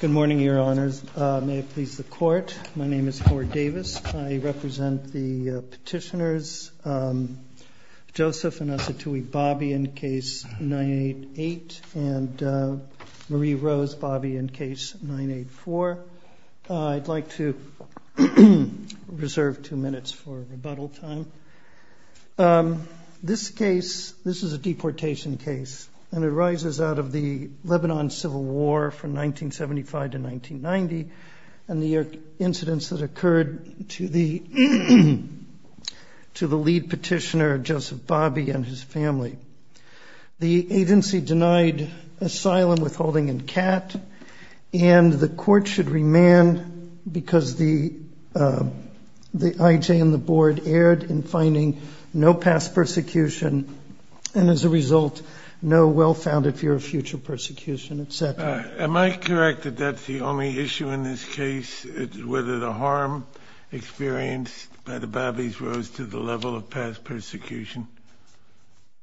Good morning, Your Honors. May it please the Court, my name is Howard Davis. I represent the petitioners Joseph and Asatui Babi in case 988 and Marie-Rose Babi in case 984. I'd like to reserve two minutes for rebuttal time. This case, this is a deportation case and it arises out of the Lebanon Civil War from 1975 to 1990 and the incidents that occurred to the lead petitioner Joseph Babi and his family. The agency denied asylum, withholding and CAT and the Court should remand because the IJ and the Board erred in finding no past persecution and as a result no well-founded fear of future persecution, etc. Am I correct that that's the only issue in this case, whether the harm experienced by the Babis rose to the level of past persecution?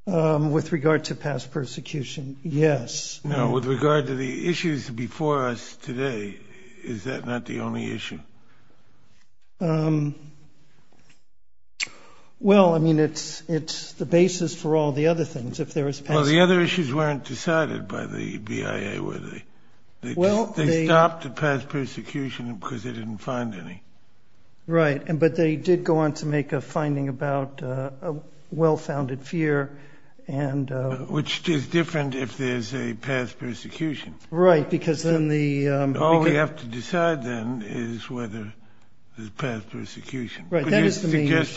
With regard to past persecution, yes. Now with regard to the issues before us today, is that not the only issue? Well, I mean, it's the basis for all the other things. Well, the other issues weren't decided by the BIA, were they? They stopped the past persecution because they didn't find any. Right, but they did go on to make a finding about a well-founded fear and... Which is different if there's a past persecution. Right, because then the... All we have to decide then is whether there's past persecution. Right, that is the main issue. Well, they did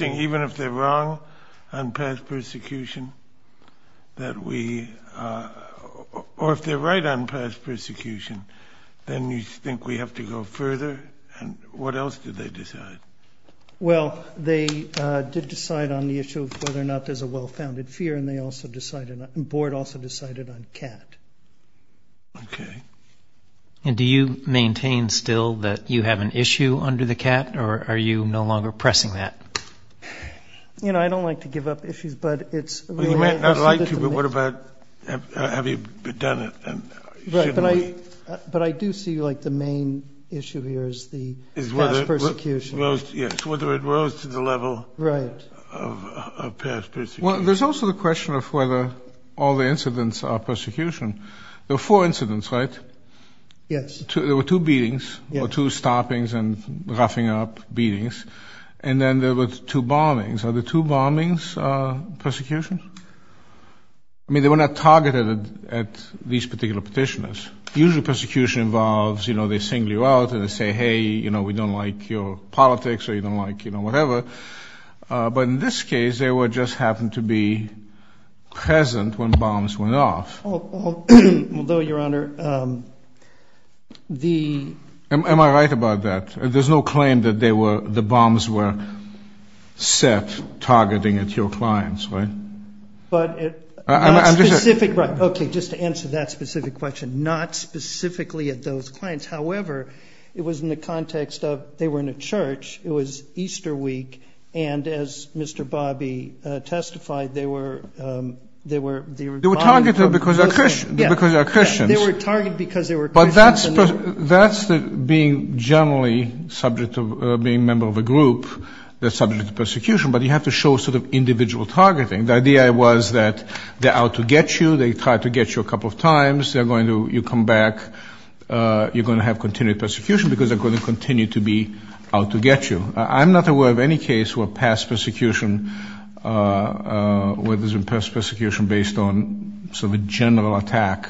decide on the issue of whether or not there's a well-founded fear and the Board also decided on CAT. Okay. And do you maintain still that you have an issue under the CAT or are you no longer pressing that? You know, I don't like to give up issues, but it's... Well, you might not like to, but what about, have you done it and shouldn't we? But I do see, like, the main issue here is the past persecution. Yes, whether it rose to the level of past persecution. Well, there's also the question of whether all the incidents are persecution. There were four incidents, right? Yes. There were two beatings, or two stoppings and roughing up beatings, and then there were two bombings. Are the two bombings persecution? I mean, they were not targeted at these particular petitioners. Usually persecution involves, you know, they single you out and they say, hey, you know, we don't like your politics or you don't like, you know, whatever. But in this case, they just happened to be present when bombs went off. Although, Your Honor, the... Am I right about that? There's no claim that they were, the bombs were set targeting at your clients, right? But it... I'm just... Specific, right. Okay, just to answer that specific question. Not specifically at those clients. However, it was in the context of they were in a church, it was Easter week, and as Mr. Bobby testified, they were... Yes, they were targeted because they were Christians. But that's being generally subject to being a member of a group that's subject to persecution, but you have to show sort of individual targeting. The idea was that they're out to get you, they tried to get you a couple of times, they're going to, you come back, you're going to have continued persecution because they're going to continue to be out to get you. I'm not aware of any case where past persecution, where there's been past persecution based on sort of a general attack.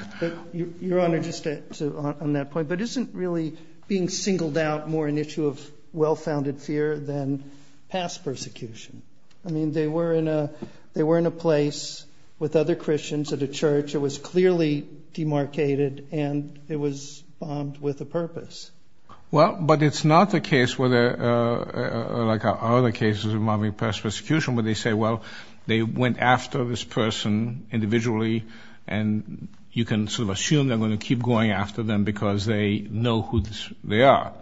Your Honor, just on that point, but isn't really being singled out more an issue of well-founded fear than past persecution? I mean, they were in a place with other Christians at a church, it was clearly demarcated, and it was bombed with a purpose. Well, but it's not the case where there are other cases involving past persecution where they say, well, they went after this person individually, and you can sort of assume they're going to keep going after them because they know who they are.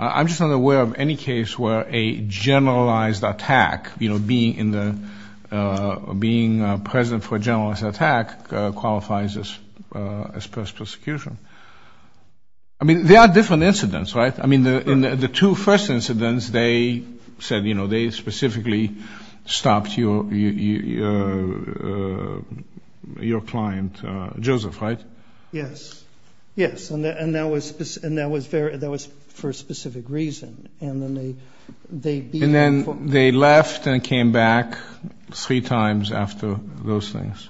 I'm just not aware of any case where a generalized attack, being present for a generalized attack qualifies as past persecution. I mean, there are different incidents, right? I mean, the two first incidents, they said, you know, they specifically stopped your client, Joseph, right? Yes, yes, and that was for a specific reason. And then they left and came back three times after those things,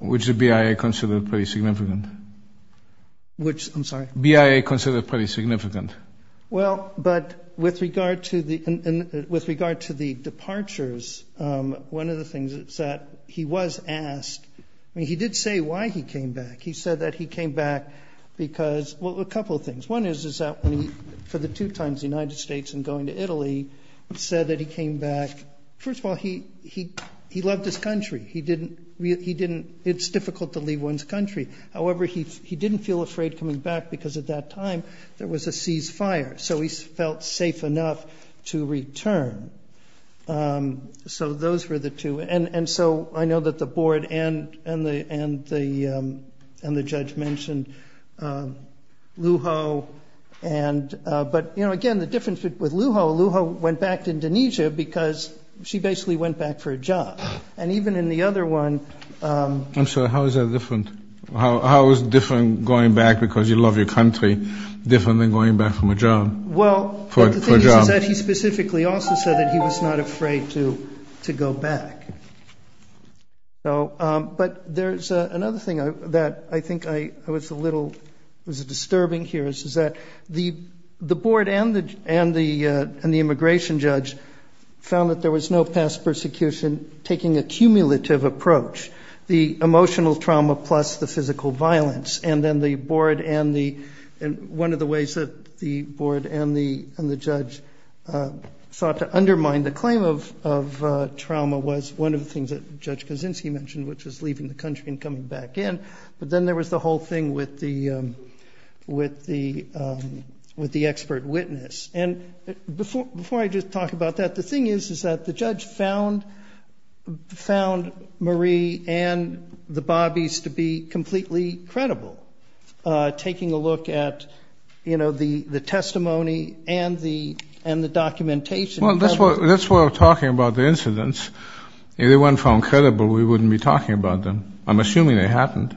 which the BIA considered pretty significant. Which, I'm sorry? BIA considered pretty significant. Well, but with regard to the departures, one of the things is that he was asked, I mean, he did say why he came back. He said that he came back because, well, a couple of things. One is that for the two times the United States and going to Italy, he said that he came back, first of all, he loved his country. He didn't, it's difficult to leave one's country. However, he didn't feel afraid coming back because at that time there was a ceasefire, so he felt safe enough to return. So those were the two. And so I know that the board and the judge mentioned Lujo. But, you know, again, the difference with Lujo, Lujo went back to Indonesia because she basically went back for a job. And even in the other one. I'm sorry, how is that different? How is different going back because you love your country different than going back for a job? Well, the thing is that he specifically also said that he was not afraid to go back. But there's another thing that I think was a little disturbing here is that the board and the immigration judge found that there was no past persecution taking a cumulative approach, the emotional trauma plus the physical violence. And then the board and the one of the ways that the board and the judge sought to undermine the claim of trauma was one of the things that Judge Kaczynski mentioned, which is leaving the country and coming back in. But then there was the whole thing with the expert witness. And before I just talk about that, the thing is, is that the judge found Marie and the Bobbies to be completely credible, taking a look at, you know, the testimony and the documentation. Well, that's what we're talking about, the incidents. If they weren't found credible, we wouldn't be talking about them. I'm assuming they happened.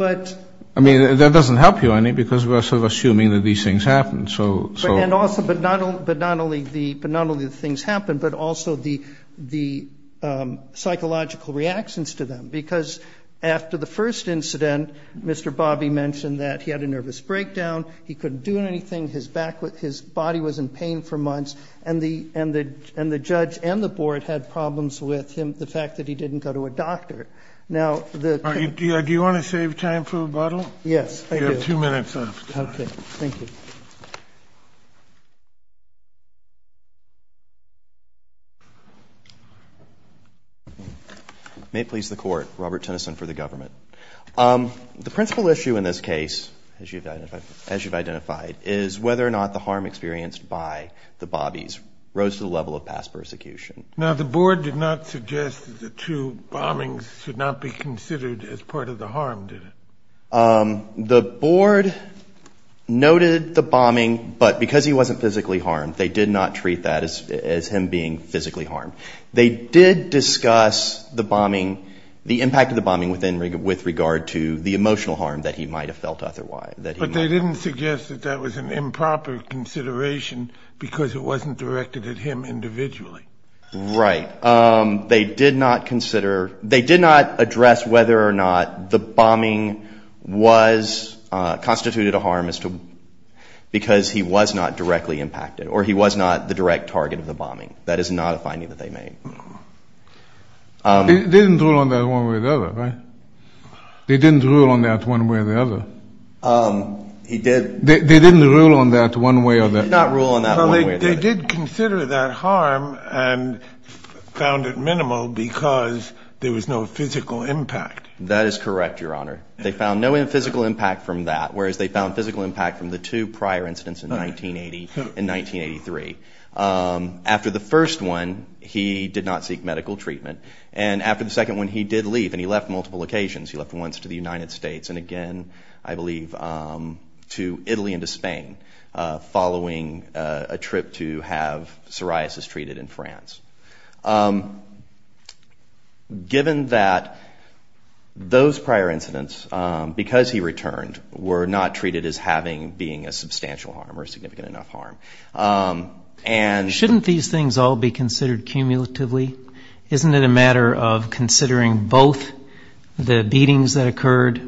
I mean, that doesn't help you any, because we're sort of assuming that these things happened. And also, but not only the things happened, but also the psychological reactions to them. Because after the first incident, Mr. Bobbie mentioned that he had a nervous breakdown, he couldn't do anything, his body was in pain for months, and the judge and the board had problems with him, the fact that he didn't go to a doctor. Do you want to save time for rebuttal? Yes, I do. You have two minutes left. Okay, thank you. May it please the Court, Robert Tennyson for the government. The principal issue in this case, as you've identified, is whether or not the harm experienced by the Bobbies rose to the level of past persecution. Now, the board did not suggest that the two bombings should not be considered as part of the harm, did it? The board noted the bombing, but because he wasn't physically harmed, they did not treat that as him being physically harmed. They did discuss the bombing, the impact of the bombing with regard to the emotional harm that he might have felt otherwise. But they didn't suggest that that was an improper consideration because it wasn't directed at him individually. Right. They did not consider, they did not address whether or not the bombing was, constituted a harm because he was not directly impacted, or he was not the direct target of the bombing. That is not a finding that they made. They didn't rule on that one way or the other, right? They didn't rule on that one way or the other. He did. They didn't rule on that one way or the other. They did not rule on that one way or the other. He was harmed and found at minimal because there was no physical impact. That is correct, Your Honor. They found no physical impact from that, whereas they found physical impact from the two prior incidents in 1980 and 1983. After the first one, he did not seek medical treatment. And after the second one, he did leave, and he left multiple occasions. He left once to the United States and again, I believe, to Italy and to Spain, following a trip to have psoriasis treated in France. Given that those prior incidents, because he returned, were not treated as having, being a substantial harm or a significant enough harm. Shouldn't these things all be considered cumulatively? Isn't it a matter of considering both the beatings that occurred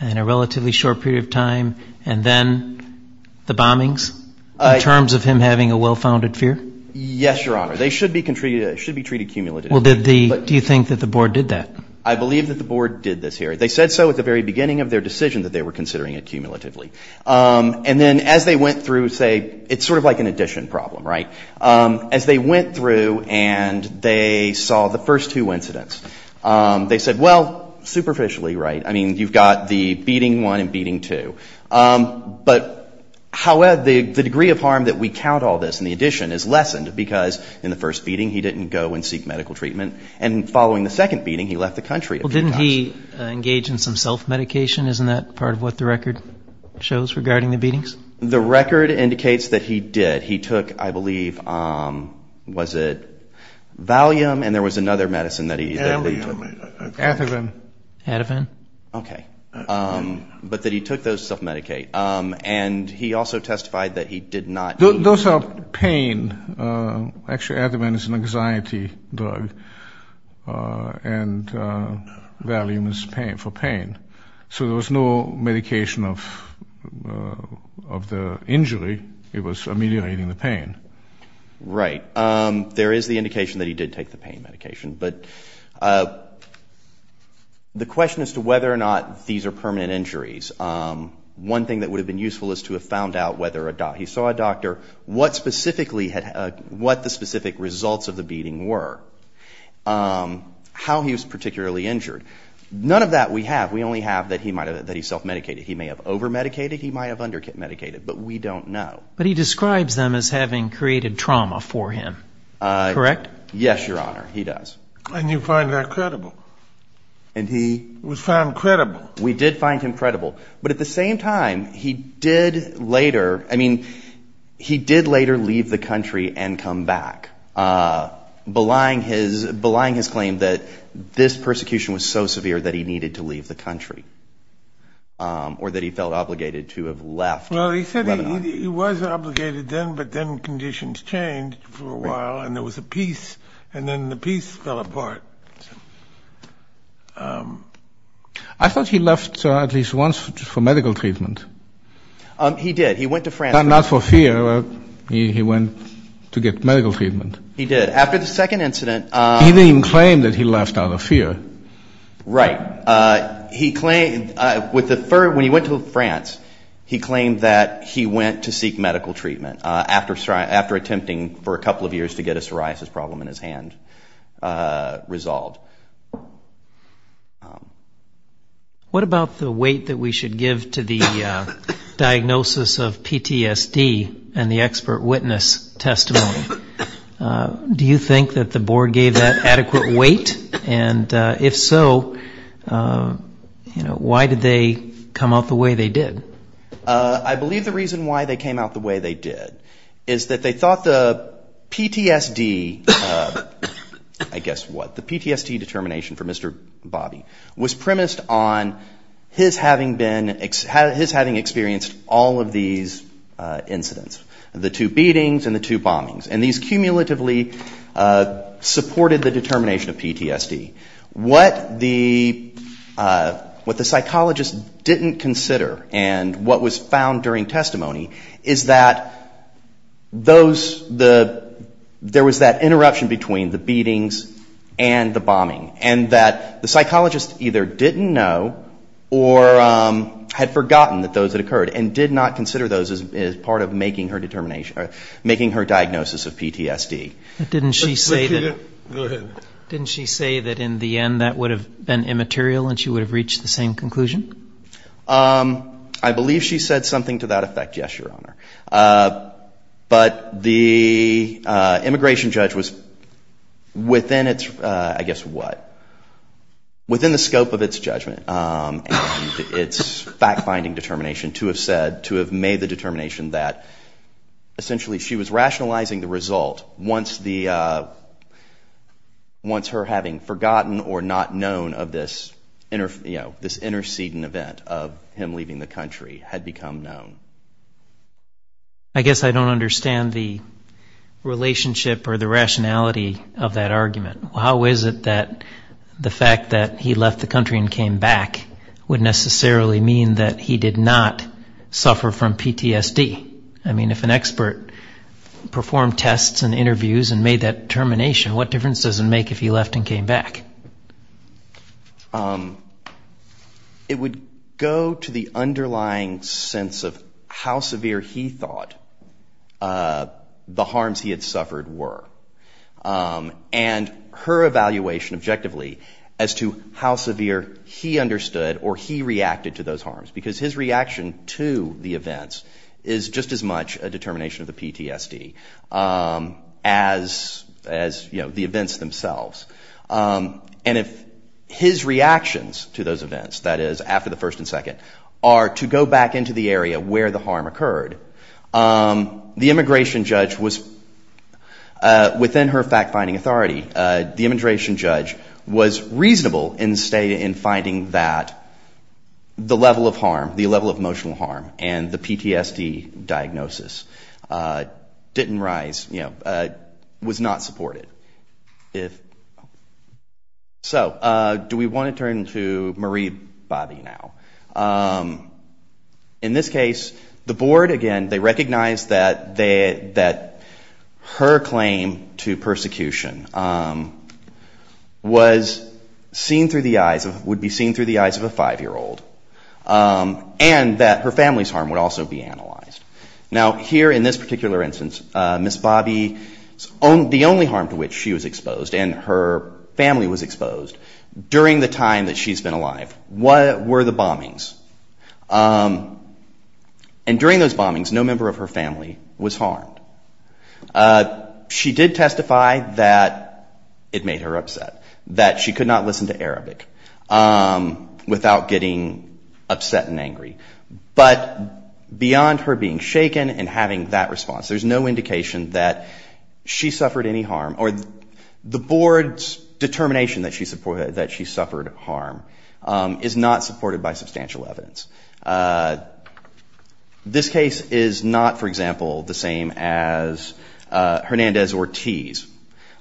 in a relatively short period of time and then the bombings in terms of him having a well-founded fear? Yes, Your Honor. They should be treated cumulatively. Do you think that the Board did that? I believe that the Board did this here. They said so at the very beginning of their decision that they were considering it cumulatively. And then as they went through, say, it's sort of like an addition problem, right? As they went through and they saw the first two incidents, they said, well, superficially right. I mean, you've got the beating one and beating two. But however, the degree of harm that we count all this in the addition is lessened because in the first beating, he didn't go and seek medical treatment. And following the second beating, he left the country a few times. Well, didn't he engage in some self-medication? Isn't that part of what the record shows regarding the beatings? The record indicates that he did. That he took, I believe, was it Valium? And there was another medicine that he took. Ativan. Ativan. Okay. But that he took those self-medicate. And he also testified that he did not. Those are pain. Actually, Ativan is an anxiety drug. And Valium is for pain. So there was no medication of the injury. It was mediating the pain. Right. There is the indication that he did take the pain medication. But the question as to whether or not these are permanent injuries, one thing that would have been useful is to have found out whether or not he saw a doctor, what the specific results of the beating were, how he was particularly injured. None of that we have. We only have that he self-medicated. He may have over-medicated. He might have under-medicated. But we don't know. But he describes them as having created trauma for him. Correct? Yes, Your Honor. He does. And you find that credible? We found credible. We did find him credible. But at the same time, he did later leave the country and come back, belying his claim that this persecution was so severe that he needed to leave the country or that he felt obligated to have left. Well, he said he was obligated then, but then conditions changed for a while and there was a peace, and then the peace fell apart. I thought he left at least once for medical treatment. He did. He went to France. Not for fear. He went to get medical treatment. He did. After the second incident. He didn't even claim that he left out of fear. Right. When he went to France, he claimed that he went to seek medical treatment after attempting for a couple of years to get a psoriasis problem in his hand resolved. What about the weight that we should give to the diagnosis of PTSD and the expert witness testimony? Do you think that the board gave that adequate weight? If so, why did they come out the way they did? I believe the reason why they came out the way they did is that they thought the PTSD determination for Mr. Bobby was premised on his having experienced all of these incidents, the two beatings and the two bombings, and these cumulatively supported the determination of PTSD. What the psychologist didn't consider and what was found during testimony is that there was that interruption between the beatings and the bombing and that the psychologist either didn't know or had forgotten that those had occurred and did not consider those as part of making her diagnosis of PTSD. Didn't she say that in the end that would have been immaterial and she would have reached the same conclusion? I believe she said something to that effect, yes, Your Honor. But the immigration judge was within the scope of its judgment and its fact-finding determination to have said, to have made the determination that essentially she was rationalizing the result once her having forgotten or not known of this intercedent event of him leaving the country had become known. I guess I don't understand the relationship or the rationality of that argument. How is it that the fact that he left the country and came back would necessarily mean that he did not suffer from PTSD? I mean, if an expert performed tests and interviews and made that determination, what difference does it make if he left and came back? It would go to the underlying sense of how severe he thought the harms he had suffered were. And her evaluation objectively as to how severe he understood or he reacted to those harms. Because his reaction to the events is just as much a determination of the PTSD as the events themselves. And if his reactions to those events, that is after the first and second, are to go back into the area where the harm occurred, the immigration judge was, within her fact-finding authority, the immigration judge was reasonable in finding that the level of harm, the level of emotional harm and the PTSD diagnosis didn't rise, was not supported. So do we want to turn to Marie Bobby now? In this case, the board, again, they recognized that her claim to persecution was seen through the eyes, would be seen through the eyes of a five-year-old. And that her family's harm would also be analyzed. Now here in this particular instance, Ms. Bobby, the only harm to which she was exposed and her family was exposed during the time that she's been alive, were the bombings. And during those bombings, no member of her family was harmed. She did testify that it made her upset, that she could not listen to Arabic without getting upset and angry. But beyond her being shaken and having that response, there's no indication that she suffered any harm, or the board's determination that she suffered harm is not supported by substantial evidence. This case is not, for example, the same as Hernandez-Ortiz,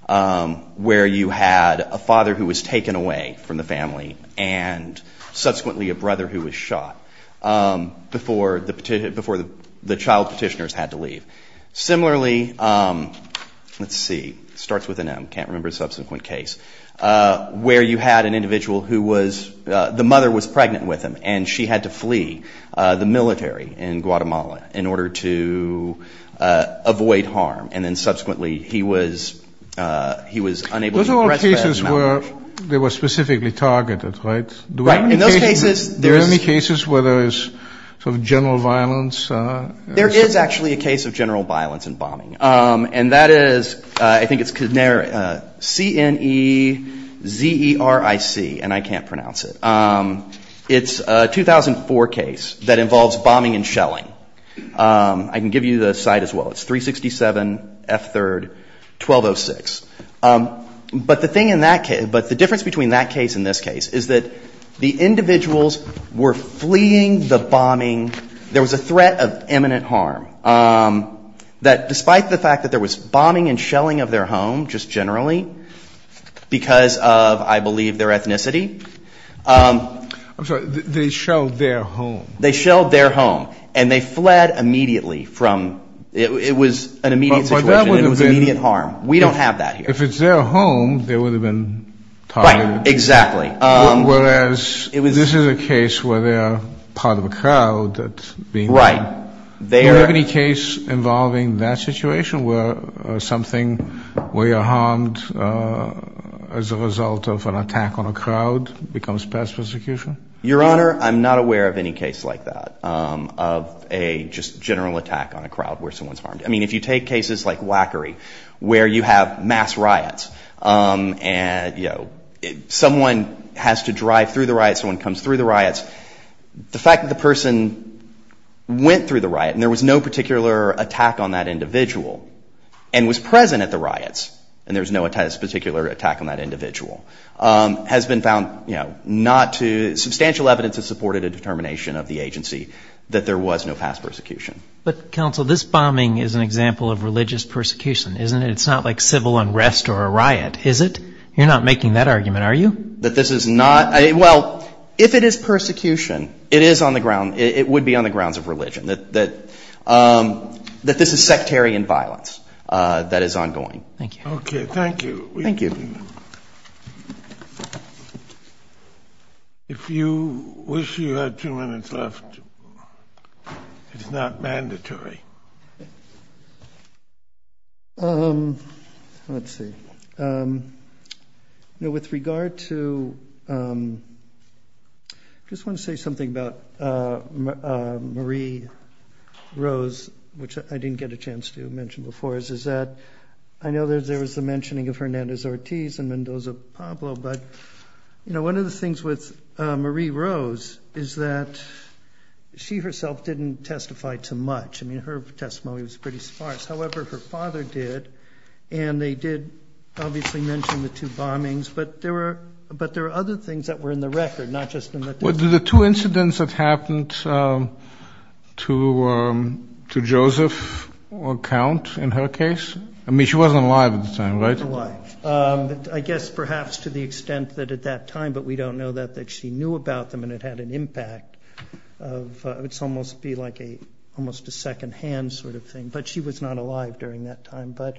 where you had a father who was taken away from the family and subsequently a brother who was shot before the child petitioners had to leave. Similarly, let's see, starts with an M, can't remember a subsequent case, where you had an individual who was, the mother was pregnant with him and she had to flee the military in Guatemala in order to avoid harm. And then subsequently he was unable to address that. Those are all cases where they were specifically targeted, right? In those cases, there's... There is actually a case of general violence in bombing. And that is, I think it's CNEZERIC, and I can't pronounce it. It's a 2004 case that involves bombing and shelling. I can give you the site as well. It's 367 F3rd 1206. But the thing in that case, but the difference between that case and this case is that the individuals were fleeing the bombing, there was a threat of imminent harm, that despite the fact that there was bombing and shelling of their home, just generally, because of, I believe, their ethnicity. I'm sorry, they shelled their home. They shelled their home and they fled immediately from, it was an immediate situation, it was immediate harm. We don't have that here. If it's their home, they would have been targeted. Right, exactly. Whereas this is a case where they are part of a crowd. Right. Do you have any case involving that situation where something, where you're harmed as a result of an attack on a crowd becomes past persecution? Your Honor, I'm not aware of any case like that, of a just general attack on a crowd where someone's harmed. I mean, if you take cases like WACKERY, where you have mass riots and, you know, someone has to drive through the riots, someone comes through the riots. The fact that the person went through the riot and there was no particular attack on that individual, and was present at the riots, and there was no particular attack on that individual, has been found not to, substantial evidence has supported a determination of the agency that there was no past persecution. But, counsel, this bombing is an example of religious persecution, isn't it? It's not like civil unrest or a riot, is it? You're not making that argument, are you? That this is not, well, if it is persecution, it is on the ground, it would be on the grounds of religion, that this is sectarian violence that is ongoing. Thank you. Okay, thank you. If you wish, you had two minutes left. It's not mandatory. Let's see. With regard to, I just want to say something about Marie Rose, which I didn't get a chance to mention before, is that I know there was a mentioning of Hernandez Ortiz and Mendoza Pablo, but one of the things with Marie Rose is that she herself didn't testify too much. I mean, her testimony was pretty sparse. However, her father did, and they did obviously mention the two bombings, but there were other things that were in the record, not just in the testimony. Were there two incidents that happened to Joseph or Count, in her case? I mean, she wasn't alive at the time, right? She wasn't alive, I guess perhaps to the extent that at that time, but we don't know that, that she knew about them and it had an impact. It would almost be like a secondhand sort of thing, but she was not alive during that time. But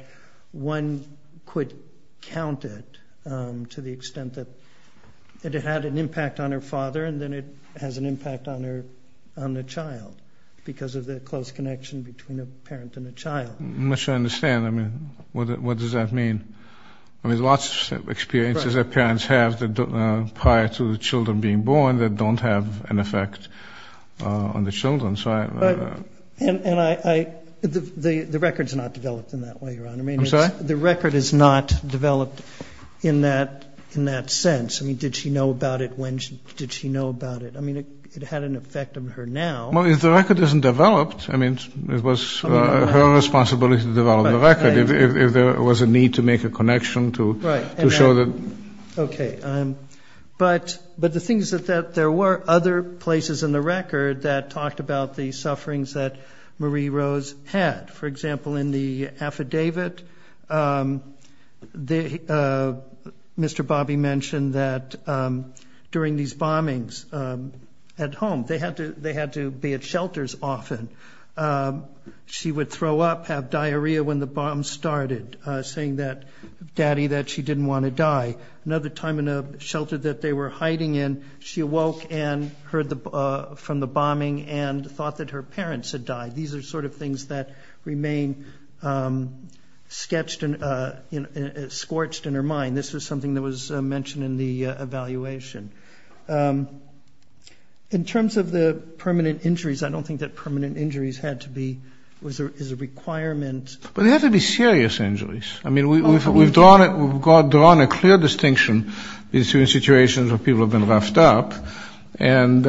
one could count it to the extent that it had an impact on her father, and then it has an impact on the child, because of the close connection between a parent and a child. I'm not sure I understand. I mean, what does that mean? I mean, lots of experiences that parents have prior to the children being born that don't have an effect on the children. The record's not developed in that way, Your Honor. I mean, did she know about it when? Did she know about it? I mean, it had an effect on her now. Well, if the record isn't developed, I mean, it was her responsibility to develop the record, if there was a need to make a connection to show that. Okay. But the thing is that there were other places in the record that talked about the sufferings that Marie Rose had. For example, in the affidavit, Mr. Bobby mentioned that during these bombings at home, they had to be at shelters often. She would throw up, have diarrhea when the bombs started, saying to Daddy that she didn't want to die. Another time in a shelter that they were hiding in, she awoke and heard from the bombing and thought that her parents had died. These are sort of things that remain sketched and scorched in her mind. This was something that was mentioned in the evaluation. In terms of the permanent injuries, I don't think that permanent injuries is a requirement. But they have to be serious injuries. I mean, we've drawn a clear distinction between situations where people have been left up and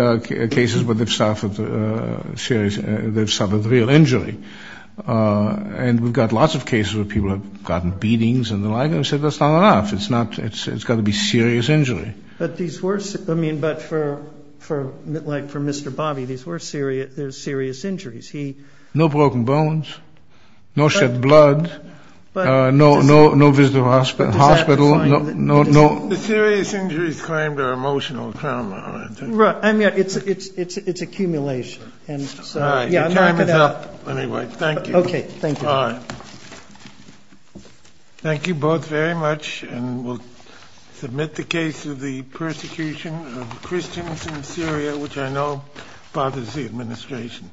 cases where they've suffered serious injuries. And we've got lots of cases where people have gotten beatings and the like. I said that's not enough. It's got to be serious injury. But for Mr. Bobby, these were serious injuries. No broken bones, no shed blood, no visit to the hospital. The serious injuries claimed are emotional trauma. It's accumulation. Your time is up. Thank you both very much. We'll submit the case of the persecution of Christians in Syria, which I know bothers the administration.